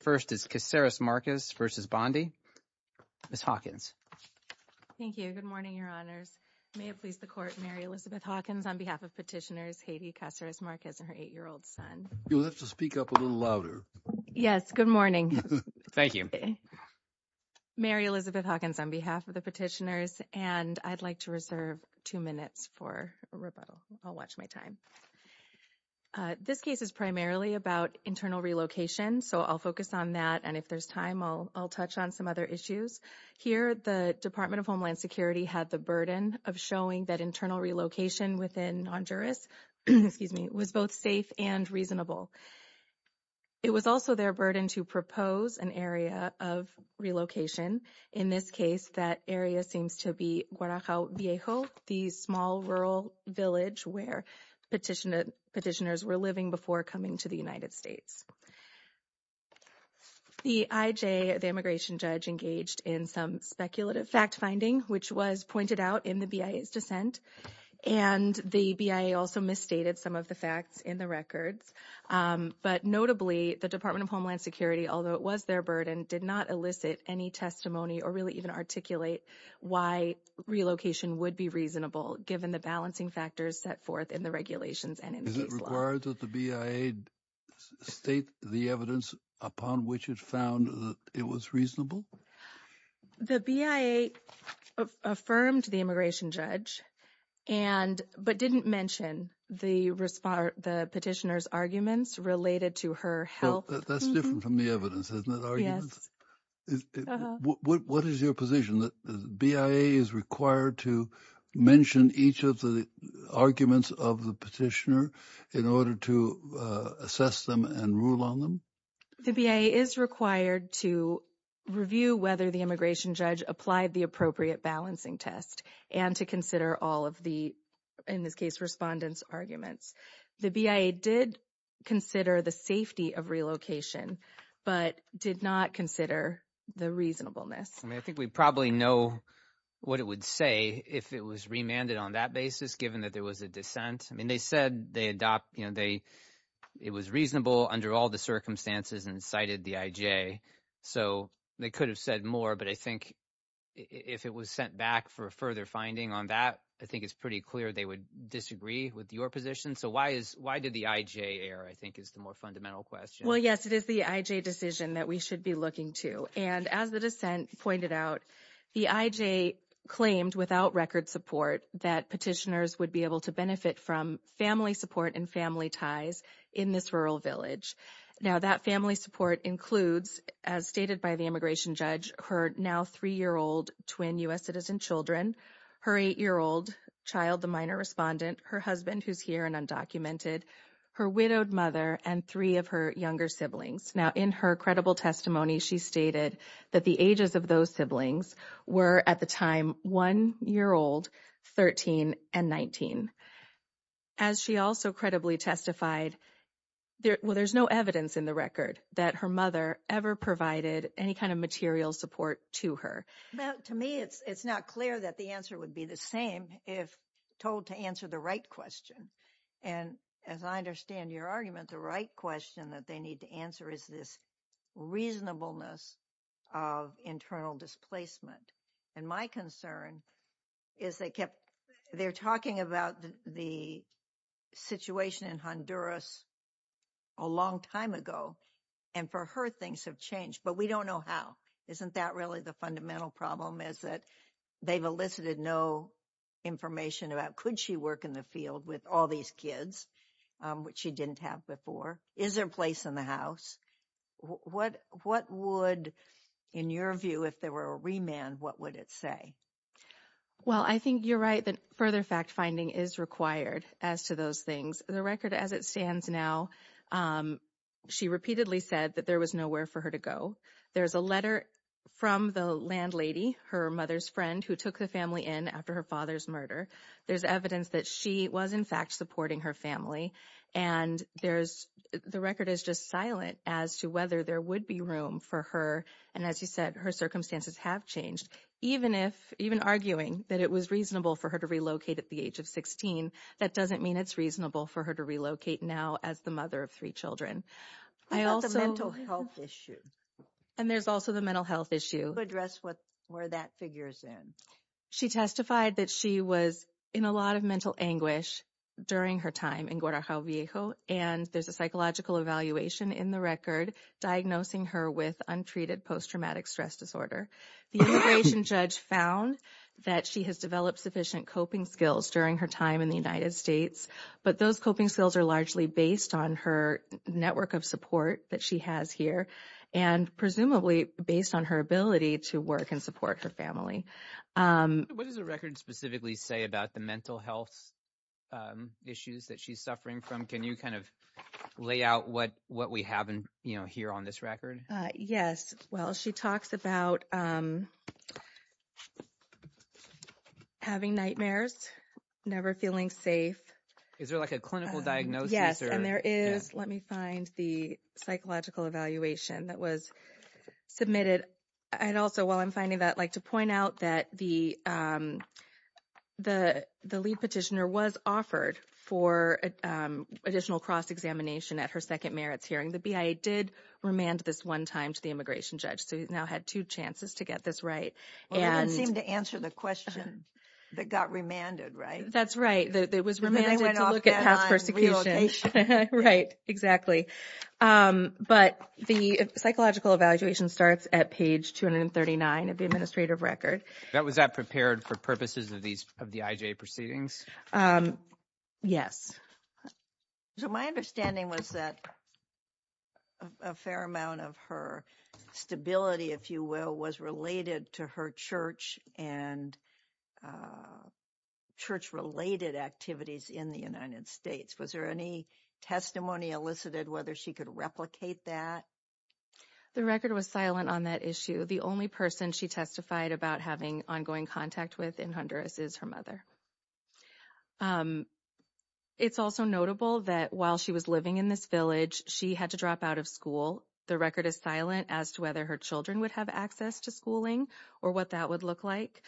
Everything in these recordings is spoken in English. First is Caceres Marquez v. Bondi. Ms. Hawkins. Thank you. Good morning, your honors. May it please the court, Mary Elizabeth Hawkins, on behalf of petitioners Hedy Caceres Marquez and her eight-year-old son. You'll have to speak up a little louder. Yes, good morning. Thank you. Mary Elizabeth Hawkins, on behalf of the petitioners, and I'd like to reserve two minutes for rebuttal. I'll watch my I'll focus on that, and if there's time, I'll touch on some other issues. Here, the Department of Homeland Security had the burden of showing that internal relocation within Honduras was both safe and reasonable. It was also their burden to propose an area of relocation. In this case, that area seems to be Guadalajo Viejo, the small rural village where petitioners were living before coming to the United States. The IJ, the immigration judge, engaged in some speculative fact-finding, which was pointed out in the BIA's dissent, and the BIA also misstated some of the facts in the records. But notably, the Department of Homeland Security, although it was their burden, did not elicit any testimony or really even articulate why relocation would be reasonable, given the balancing factors set forth in the regulations and in the case law. Is it required that the BIA state evidence upon which it found that it was reasonable? The BIA affirmed the immigration judge, but didn't mention the petitioner's arguments related to her health. That's different from the evidence, isn't it? What is your position? The BIA is required to mention each of the arguments of the petitioner in order to assess them and rule on them? The BIA is required to review whether the immigration judge applied the appropriate balancing test and to consider all of the, in this case, respondents' arguments. The BIA did consider the safety of relocation, but did not consider the reasonableness. I think we probably know what it would say if it was remanded on that basis, given that there was a dissent. They said it was reasonable under all the circumstances and cited the IJ. They could have said more, but I think if it was sent back for further finding on that, I think it's pretty clear they would disagree with your position. Why did the IJ err, I think is the more fundamental question. Yes, it is the IJ decision that we should be looking to. As the dissent pointed out, the IJ claimed without record support that petitioners would be able to benefit from family support and family ties in this rural village. Now, that family support includes, as stated by the immigration judge, her now three-year-old twin U.S. citizen children, her eight-year-old child, the minor respondent, her husband, who's here and undocumented, her widowed mother, and three of her younger siblings. Now, in her credible testimony, she stated that the ages of those siblings were, at the time, one-year-old, 13, and 19. As she also credibly testified, well, there's no evidence in the record that her mother ever provided any kind of material support to her. Now, to me, it's not clear that the answer would be the same if told to answer the right question. And as I understand your argument, the right question that they need to answer is this reasonableness of internal displacement. And my concern is they kept, they're talking about the situation in Honduras a long time ago, and for her, things have changed, but we don't know how. Isn't that really the fundamental problem, is that they've elicited no information about could she work in the field with all these kids, which she didn't have before? Is there a place in the what would, in your view, if there were a remand, what would it say? Well, I think you're right that further fact-finding is required as to those things. The record as it stands now, she repeatedly said that there was nowhere for her to go. There's a letter from the landlady, her mother's friend, who took the family in after her father's murder. There's evidence that she was, in fact, supporting her family. And there's, the record is just silent as to whether there would be room for her. And as you said, her circumstances have changed. Even if, even arguing that it was reasonable for her to relocate at the age of 16, that doesn't mean it's reasonable for her to relocate now as the mother of three children. I also. What about the mental health issue? And there's also the mental health issue. Address what, where that figures in. She testified that she was in a lot of mental anguish during her time in Guadalajara, and there's a psychological evaluation in the record diagnosing her with untreated post-traumatic stress disorder. The immigration judge found that she has developed sufficient coping skills during her time in the United States, but those coping skills are largely based on her network of support that she has here and presumably based on her ability to work and support her family. What does the record specifically say about the mental health issues that she's suffering from? Can you kind of lay out what we have here on this record? Yes. Well, she talks about having nightmares, never feeling safe. Is there like a clinical diagnosis? Yes. And there is, let me find the psychological evaluation that was submitted. And also, while I'm finding that, I'd like to point out that the lead petitioner was offered for additional cross-examination at her second merits hearing. The BIA did remand this one time to the immigration judge, so he's now had two chances to get this right. Well, they didn't seem to answer the question that got remanded, right? That's right. It was remanded to look at past persecution. Right. Exactly. But the psychological evaluation starts at page 239 of the administrative record. Was that prepared for purposes of the IJ proceedings? Yes. So my understanding was that a fair amount of her stability, if you will, was related to her church and church-related activities in the United States. Was there any testimony elicited whether she could replicate that? The record was silent on that issue. The only person she testified about having ongoing contact with in Honduras is her mother. It's also notable that while she was living in this village, she had to drop out of school. The record is silent as to whether her children would have access to schooling or what that would look like.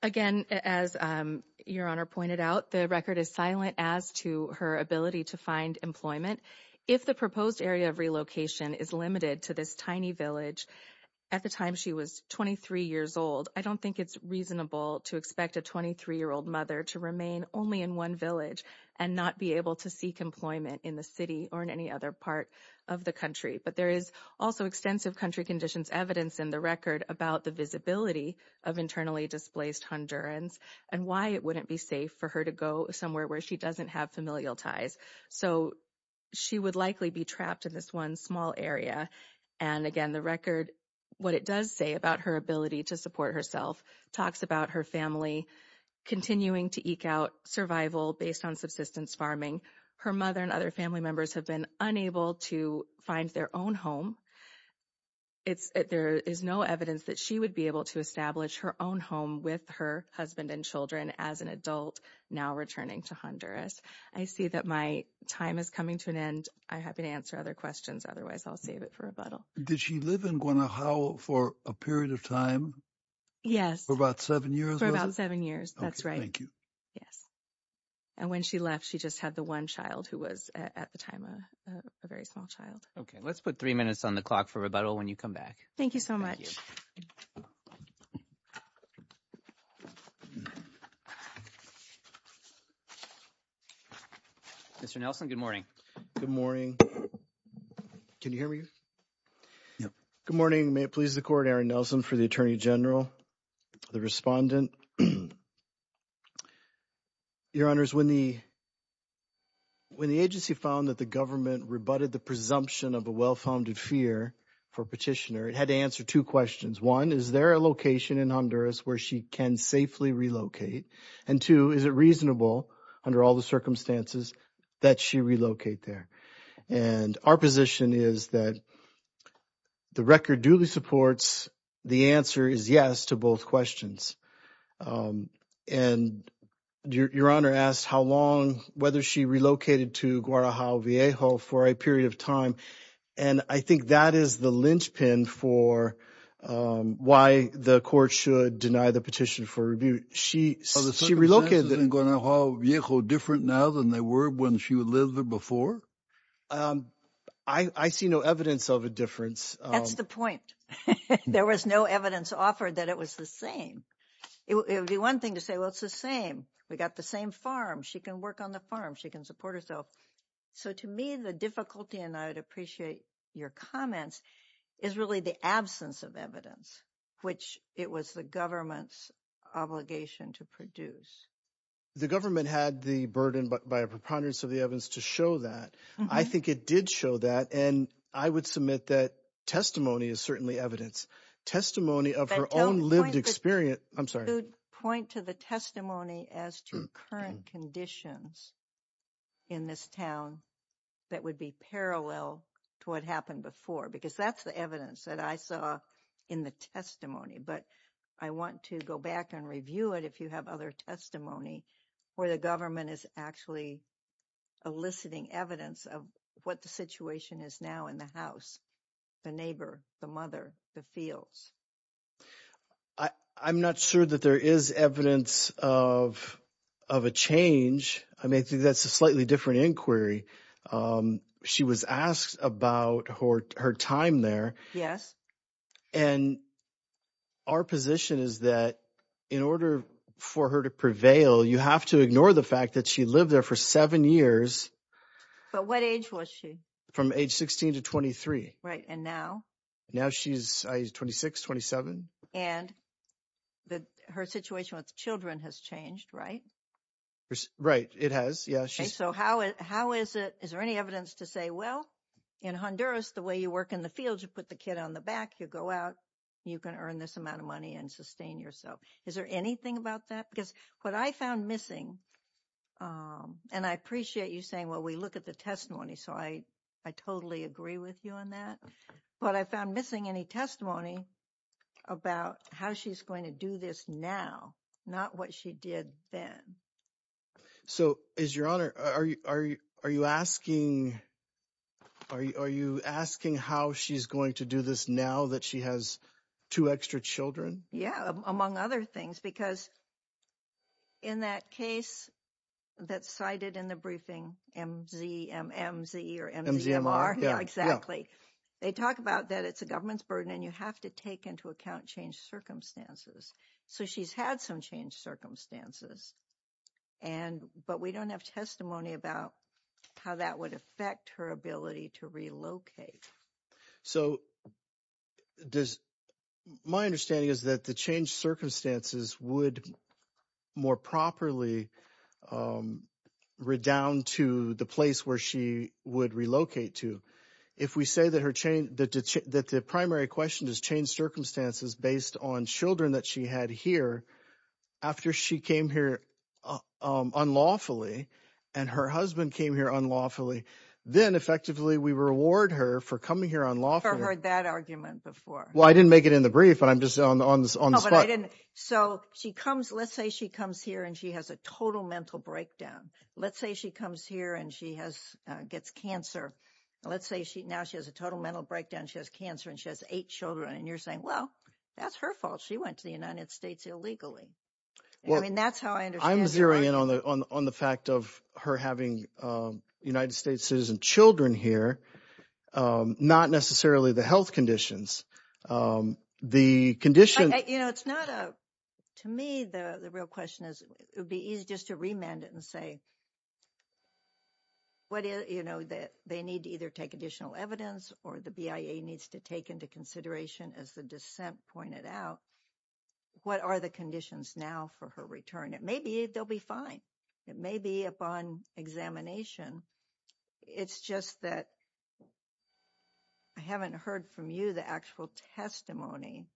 Again, as Your Honor pointed out, the record is silent as to her ability to find employment. If the proposed area of relocation is limited to this tiny village at the time she was 23 years old, I don't think it's reasonable to expect a 23-year-old mother to remain only in one village and not be able to seek employment in the city or in any other part of the country. But there is also extensive country conditions evidence in the record about the visibility of internally displaced Hondurans and why it wouldn't be safe for her to go somewhere where she doesn't have familial ties. So she would likely be trapped in this one small area. And again, the record, what it does say about her ability to support herself, talks about her family continuing to eke out survival based on subsistence farming. Her mother and other family members have been unable to find their own home. There is no evidence that she would be able to establish her own home with her husband and children as an adult now returning to Honduras. I see that my time is coming to an end. I'm happy to answer other questions. Otherwise, I'll save it for rebuttal. Did she live in Guanajuato for a period of time? Yes. For about seven years? For about seven years. That's right. Thank you. Yes. And when she left, she just had the one child who was at the time a very small child. Okay. Let's put three minutes on the clock for rebuttal when you come back. Thank you so much. Mr. Nelson, good morning. Good morning. Can you hear me? Yeah. Good morning. May it please the court, Aaron Nelson for the Attorney General, the respondent. Your Honor, when the agency found that the government rebutted the presumption of a well-founded fear for petitioner, it had to answer two questions. One, is there a location in Honduras where she can safely relocate? And two, is it reasonable under all the circumstances that she relocate there? And our position is that the record duly supports the answer is yes to both questions. And your Honor asked how long, whether she relocated to Guadalajara, for a period of time. And I think that is the linchpin for why the court should deny the petition for rebut. She relocated. Are the circumstances in Guadalajara different now than they were when she lived there before? I see no evidence of a difference. That's the point. There was no evidence offered that it was the same. It would be one thing to say, well, it's the same. We got the same farm. She can work on the farm. She can support herself. So to me, the difficulty, and I would appreciate your comments, is really the absence of evidence, which it was the government's obligation to produce. The government had the burden by a preponderance of the evidence to show that. I think it did show that. And I would submit that testimony is certainly evidence. Testimony of her own lived experience. I'm sorry. Point to the testimony as to current conditions in this town that would be parallel to what happened before, because that's the evidence that I saw in the testimony. But I want to go back and review it if you have other testimony where the government is actually eliciting evidence of what the situation is now in the house, the neighbor, the mother, the fields. I'm not sure that there is evidence of a change. I mean, that's a slightly different inquiry. She was asked about her time there. Yes. And our position is that in order for her to prevail, you have to ignore the fact that she lived there for seven years. But what age was she? From age 16 to 23. Right. And now now she's 26, 27. And her situation with children has changed, right? Right. It has. So how is it? Is there any evidence to say, well, in Honduras, the way you work in the fields, you put the kid on the back, you go out, you can earn this amount of money and sustain yourself. Is there anything about that? Because what I found missing and I appreciate you saying, well, we look at the testimony. So I, I totally agree with you on that. But I found missing any testimony about how she's going to do this now, not what she did then. So is your honor, are you asking, are you asking how she's going to do this now that she has two extra children? Yeah. Among other things, because. In that case that's cited in the briefing, MZMMZ or MZMR. Exactly. They talk about that it's a government's burden and you have to take into account change circumstances. So she's had some change circumstances. And but we don't have testimony about how that would affect her ability to relocate. So does my understanding is that the change circumstances would more properly redound to the place where she would relocate to if we say that her chain, that the primary question is change circumstances based on children that she had here after she came here unlawfully and her husband came here unlawfully. Then effectively, we reward her for coming here unlawfully. I've heard that argument before. Well, I didn't make it in the brief, but I'm just on the spot. So she comes, let's say she comes here and she has a total mental breakdown. Let's say she comes here and she has gets cancer. Let's say now she has a total mental breakdown. She has cancer and she has eight children. And you're saying, well, that's her fault. She went to the United States illegally. I mean, that's how I understand. On the fact of her having United States citizen children here, not necessarily the health conditions, the condition. To me, the real question is, it would be easy just to remand it and say, they need to either take additional evidence or the BIA needs to take into consideration, as the dissent pointed out, what are the conditions now for her return? It may be they'll be fine. It may be upon examination. It's just that I haven't heard from you the actual testimony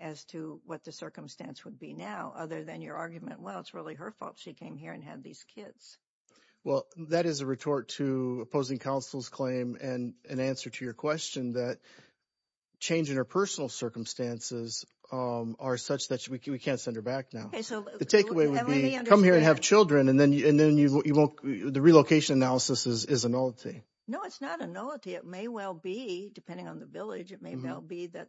as to what the circumstance would be now, other than your argument. Well, it's really her fault. She came here and had these kids. Well, that is a retort to opposing counsel's claim and an answer to your question that change in her personal circumstances are such that we can't send her back now. The takeaway would be come here and have children and then the relocation analysis is a nullity. No, it's not a nullity. It may well be depending on the village. It may well be that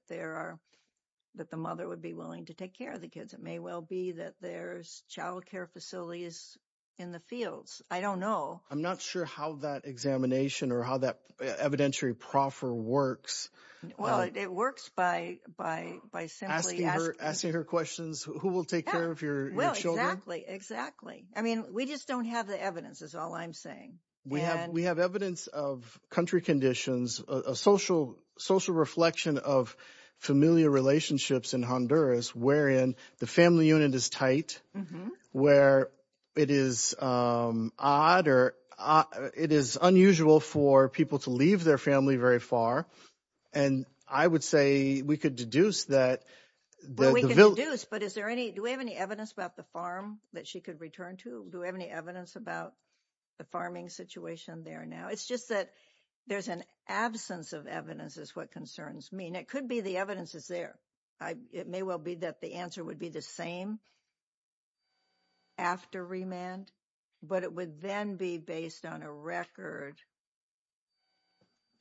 the mother would be willing to take care of the kids. It may well be that there's child care facilities in the fields. I don't know. I'm not sure how that examination or how that evidentiary proffer works. Well, it works by simply asking her questions. Who will take care of your children? Exactly. I mean, we just don't have the evidence is all I'm saying. We have evidence of country conditions, a social reflection of familial relationships in Honduras, wherein the family unit is tight, where it is odd or it is unusual for people to leave their family very far. And I would say we could deduce that. But we can deduce. But is there any, do we have any evidence about the farm that she could return to? Do we have any evidence about the farming situation there now? It's just that there's an absence of evidence is what concerns me. And it could be the evidence is there. It may well be that the answer would be the same after remand, but it would then be based on a record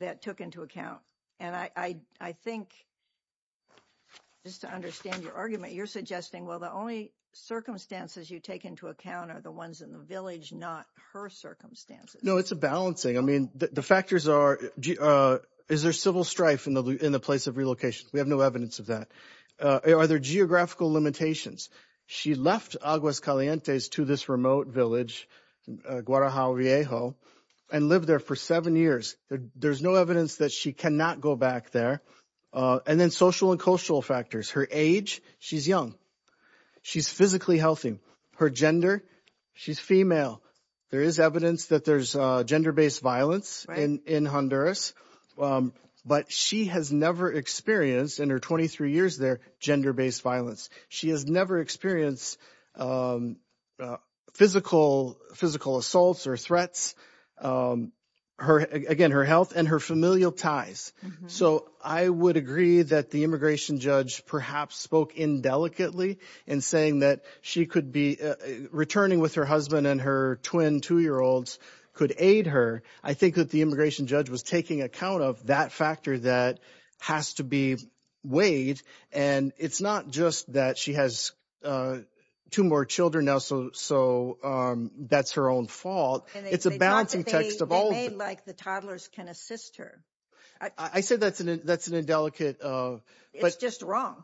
that took into account. And I think just to understand your argument, you're suggesting, well, the only circumstances you take into account are the ones in the village, not her circumstances. No, it's a balancing. I mean, the factors are, is there civil strife in the place of relocation? We have no evidence of that. Are there geographical limitations? She left Aguas Calientes to this remote village, Guadalajara, and lived there for seven years. There's no evidence that she cannot go back there. And then social and cultural factors. Her age, she's young. She's physically healthy. Her gender, she's female. There is evidence that there's gender-based violence in Honduras, but she has never experienced in her 23 years there, gender-based violence. She has never experienced physical assaults or threats. Again, her health and her familial ties. So I would agree that the immigration judge perhaps spoke indelicately in saying that she could be returning with her husband and her twin two-year-olds could aid her. I think that the immigration judge was taking account of that factor that has to be weighed. And it's not just that she has two more children now, so that's her own fault. It's a balancing text of all of it. They talk like the toddlers can assist her. I said that's an indelicate... It's just wrong.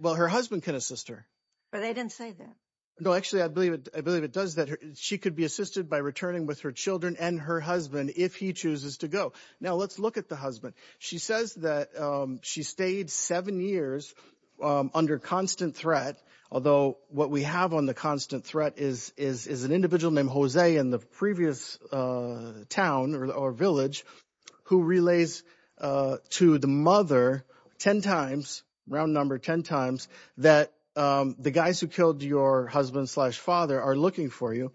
Well, her husband can assist her. But they didn't say that. No, actually, I believe it does that. She could be assisted by returning with her children and her husband if he chooses to go. Now, let's look at the husband. She says that she stayed seven years under constant threat, although what we have on the constant threat is an individual named Jose in the previous town or village who relays to the mother 10 times, round number 10 times, that the guys who killed your husband slash father are looking for you.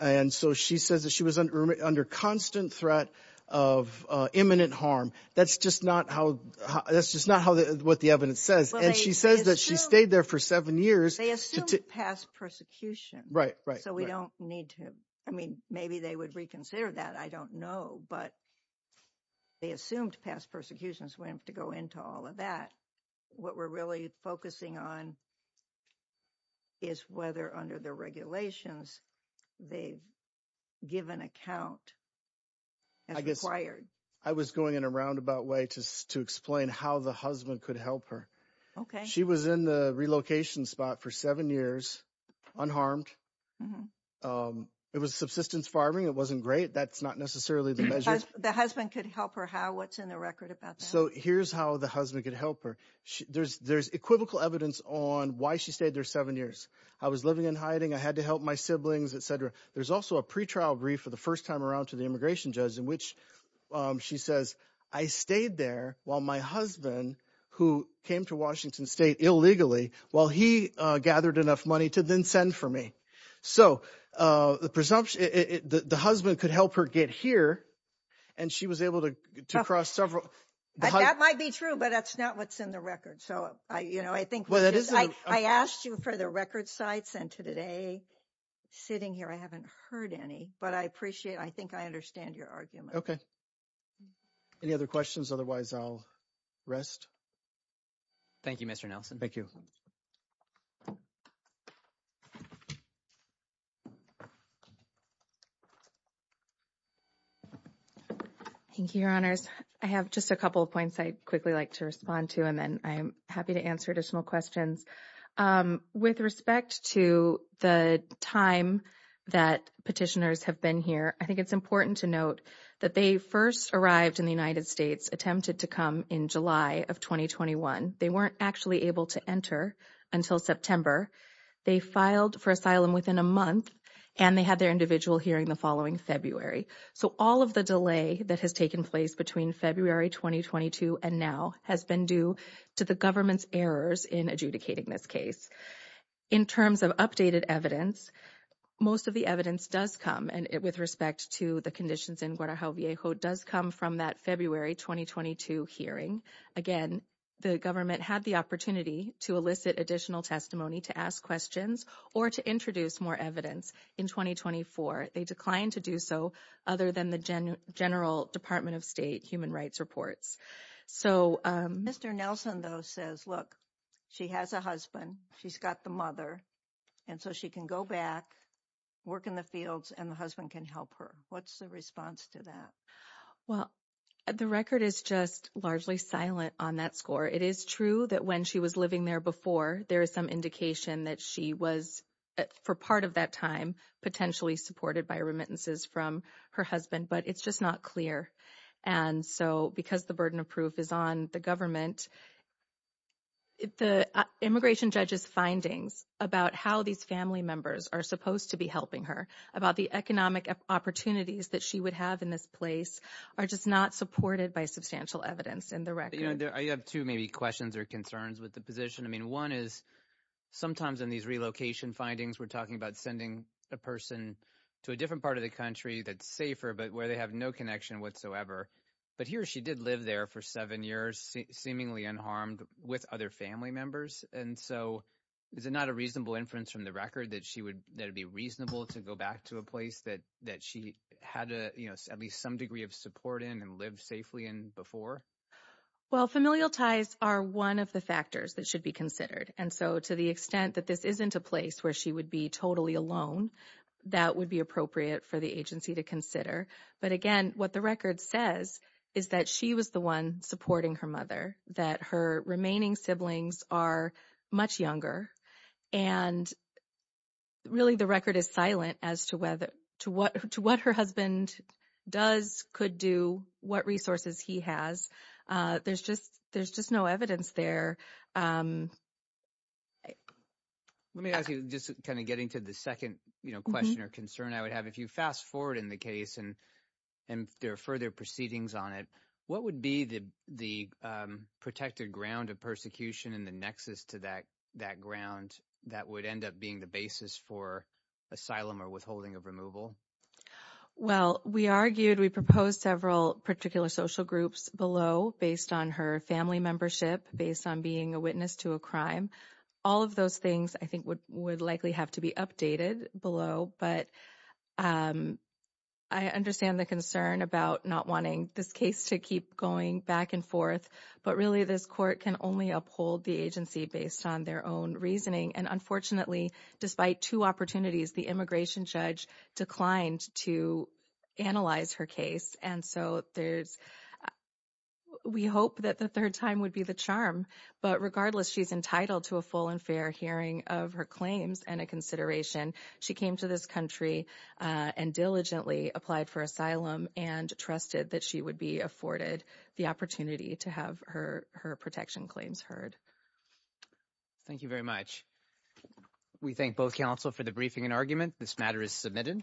And so she says that she was under constant threat of imminent harm. That's just not what the evidence says. And she says that she stayed there for seven years. They assumed past persecution. Right, right. So we don't need to... I mean, maybe they would reconsider that. I don't know. But they assumed past persecutions. We don't have to go into all of that. What we're really focusing on is whether under the regulations they've given account as required. I was going in a roundabout way to explain how the husband could help her. She was in the relocation spot for seven years, unharmed. It was subsistence farming. It wasn't great. That's not necessarily the measures. The husband could help her how? What's in the record about that? So here's how the husband could help her. There's equivocal evidence on why she stayed there seven years. I was living in hiding. I had to help my siblings, et cetera. There's also a pretrial brief for the first time around to the immigration judge in which she says, I stayed there while my husband, who came to Washington state illegally, while he gathered enough money to then send for me. So the husband could help her get here and she was able to cross several... That might be true, but that's not what's in the record. So I think... I asked you for the record sites and today, sitting here, I haven't heard any. But I appreciate... I think I understand your argument. Okay. Any other questions? Otherwise, I'll rest. Thank you, Mr. Nelson. Thank you, your honors. I have just a couple of points I'd quickly like to respond to, and then I'm happy to answer additional questions. With respect to the time that petitioners have been here, I think it's important to note that they first arrived in the United States, attempted to come in July of 2021. They weren't actually able to enter until September. They filed for asylum within a month and they had their individual hearing the following February. So all of the delay that has taken place between February 2022 and now has been due to the government's errors in adjudicating this case. In terms of updated evidence, most of the evidence does come and with respect to the conditions in Guadalajara does come from that February 2022 hearing. Again, the government had the opportunity to elicit additional testimony to ask questions or to introduce more evidence in 2024. They declined to do so other than the general Department of State human rights reports. So Mr. Nelson, though, says, look, she has a husband, she's got the mother, and so she can go back, work in the fields and the husband can help her. What's the response to that? Well, the record is just largely silent on that score. It is true that when she was living there before, there is some indication that she was for part of that time potentially supported by remittances from her husband, but it's just not clear. And so because the burden of proof is on the government, the immigration judge's findings about how these family members are supposed to be helping her, about the economic opportunities that she would have in this place are just not supported by substantial evidence in the record. I have two maybe questions or concerns with the position. I mean, one is sometimes in these relocation findings, we're talking about sending a person to a different part of the country that's safer, but where they have no connection whatsoever. But he or she did live there for seven years, seemingly unharmed with other family members. And so is it not a reasonable inference from the record that it'd be reasonable to go back to a place that she had at least some degree of support in and lived safely in before? Well, familial ties are one of the factors that should be considered. And so to the extent that this isn't a place where she would be totally alone, that would be appropriate for the agency to consider. But again, what the record says is that she was the one supporting her mother, that her remaining siblings are much younger. And really, the record is silent as to what her husband does, could do, what resources he has. There's just no evidence there. Let me ask you, just kind of getting to the second question or concern I would have. If you fast forward in the case and there are further proceedings on it, what would the protected ground of persecution and the nexus to that ground that would end up being the basis for asylum or withholding of removal? Well, we argued, we proposed several particular social groups below based on her family membership, based on being a witness to a crime. All of those things I think would likely have to be updated below. But I understand the concern about not wanting this case to keep going back and forth. But really, this court can only uphold the agency based on their own reasoning. And unfortunately, despite two opportunities, the immigration judge declined to analyze her case. And so we hope that the third time would be the charm. But regardless, she's entitled to a full and fair hearing of her claims and a consideration. She came to this country and diligently applied for asylum and trusted that she would be afforded the opportunity to have her protection claims heard. Thank you very much. We thank both counsel for the briefing and argument. This matter is submitted.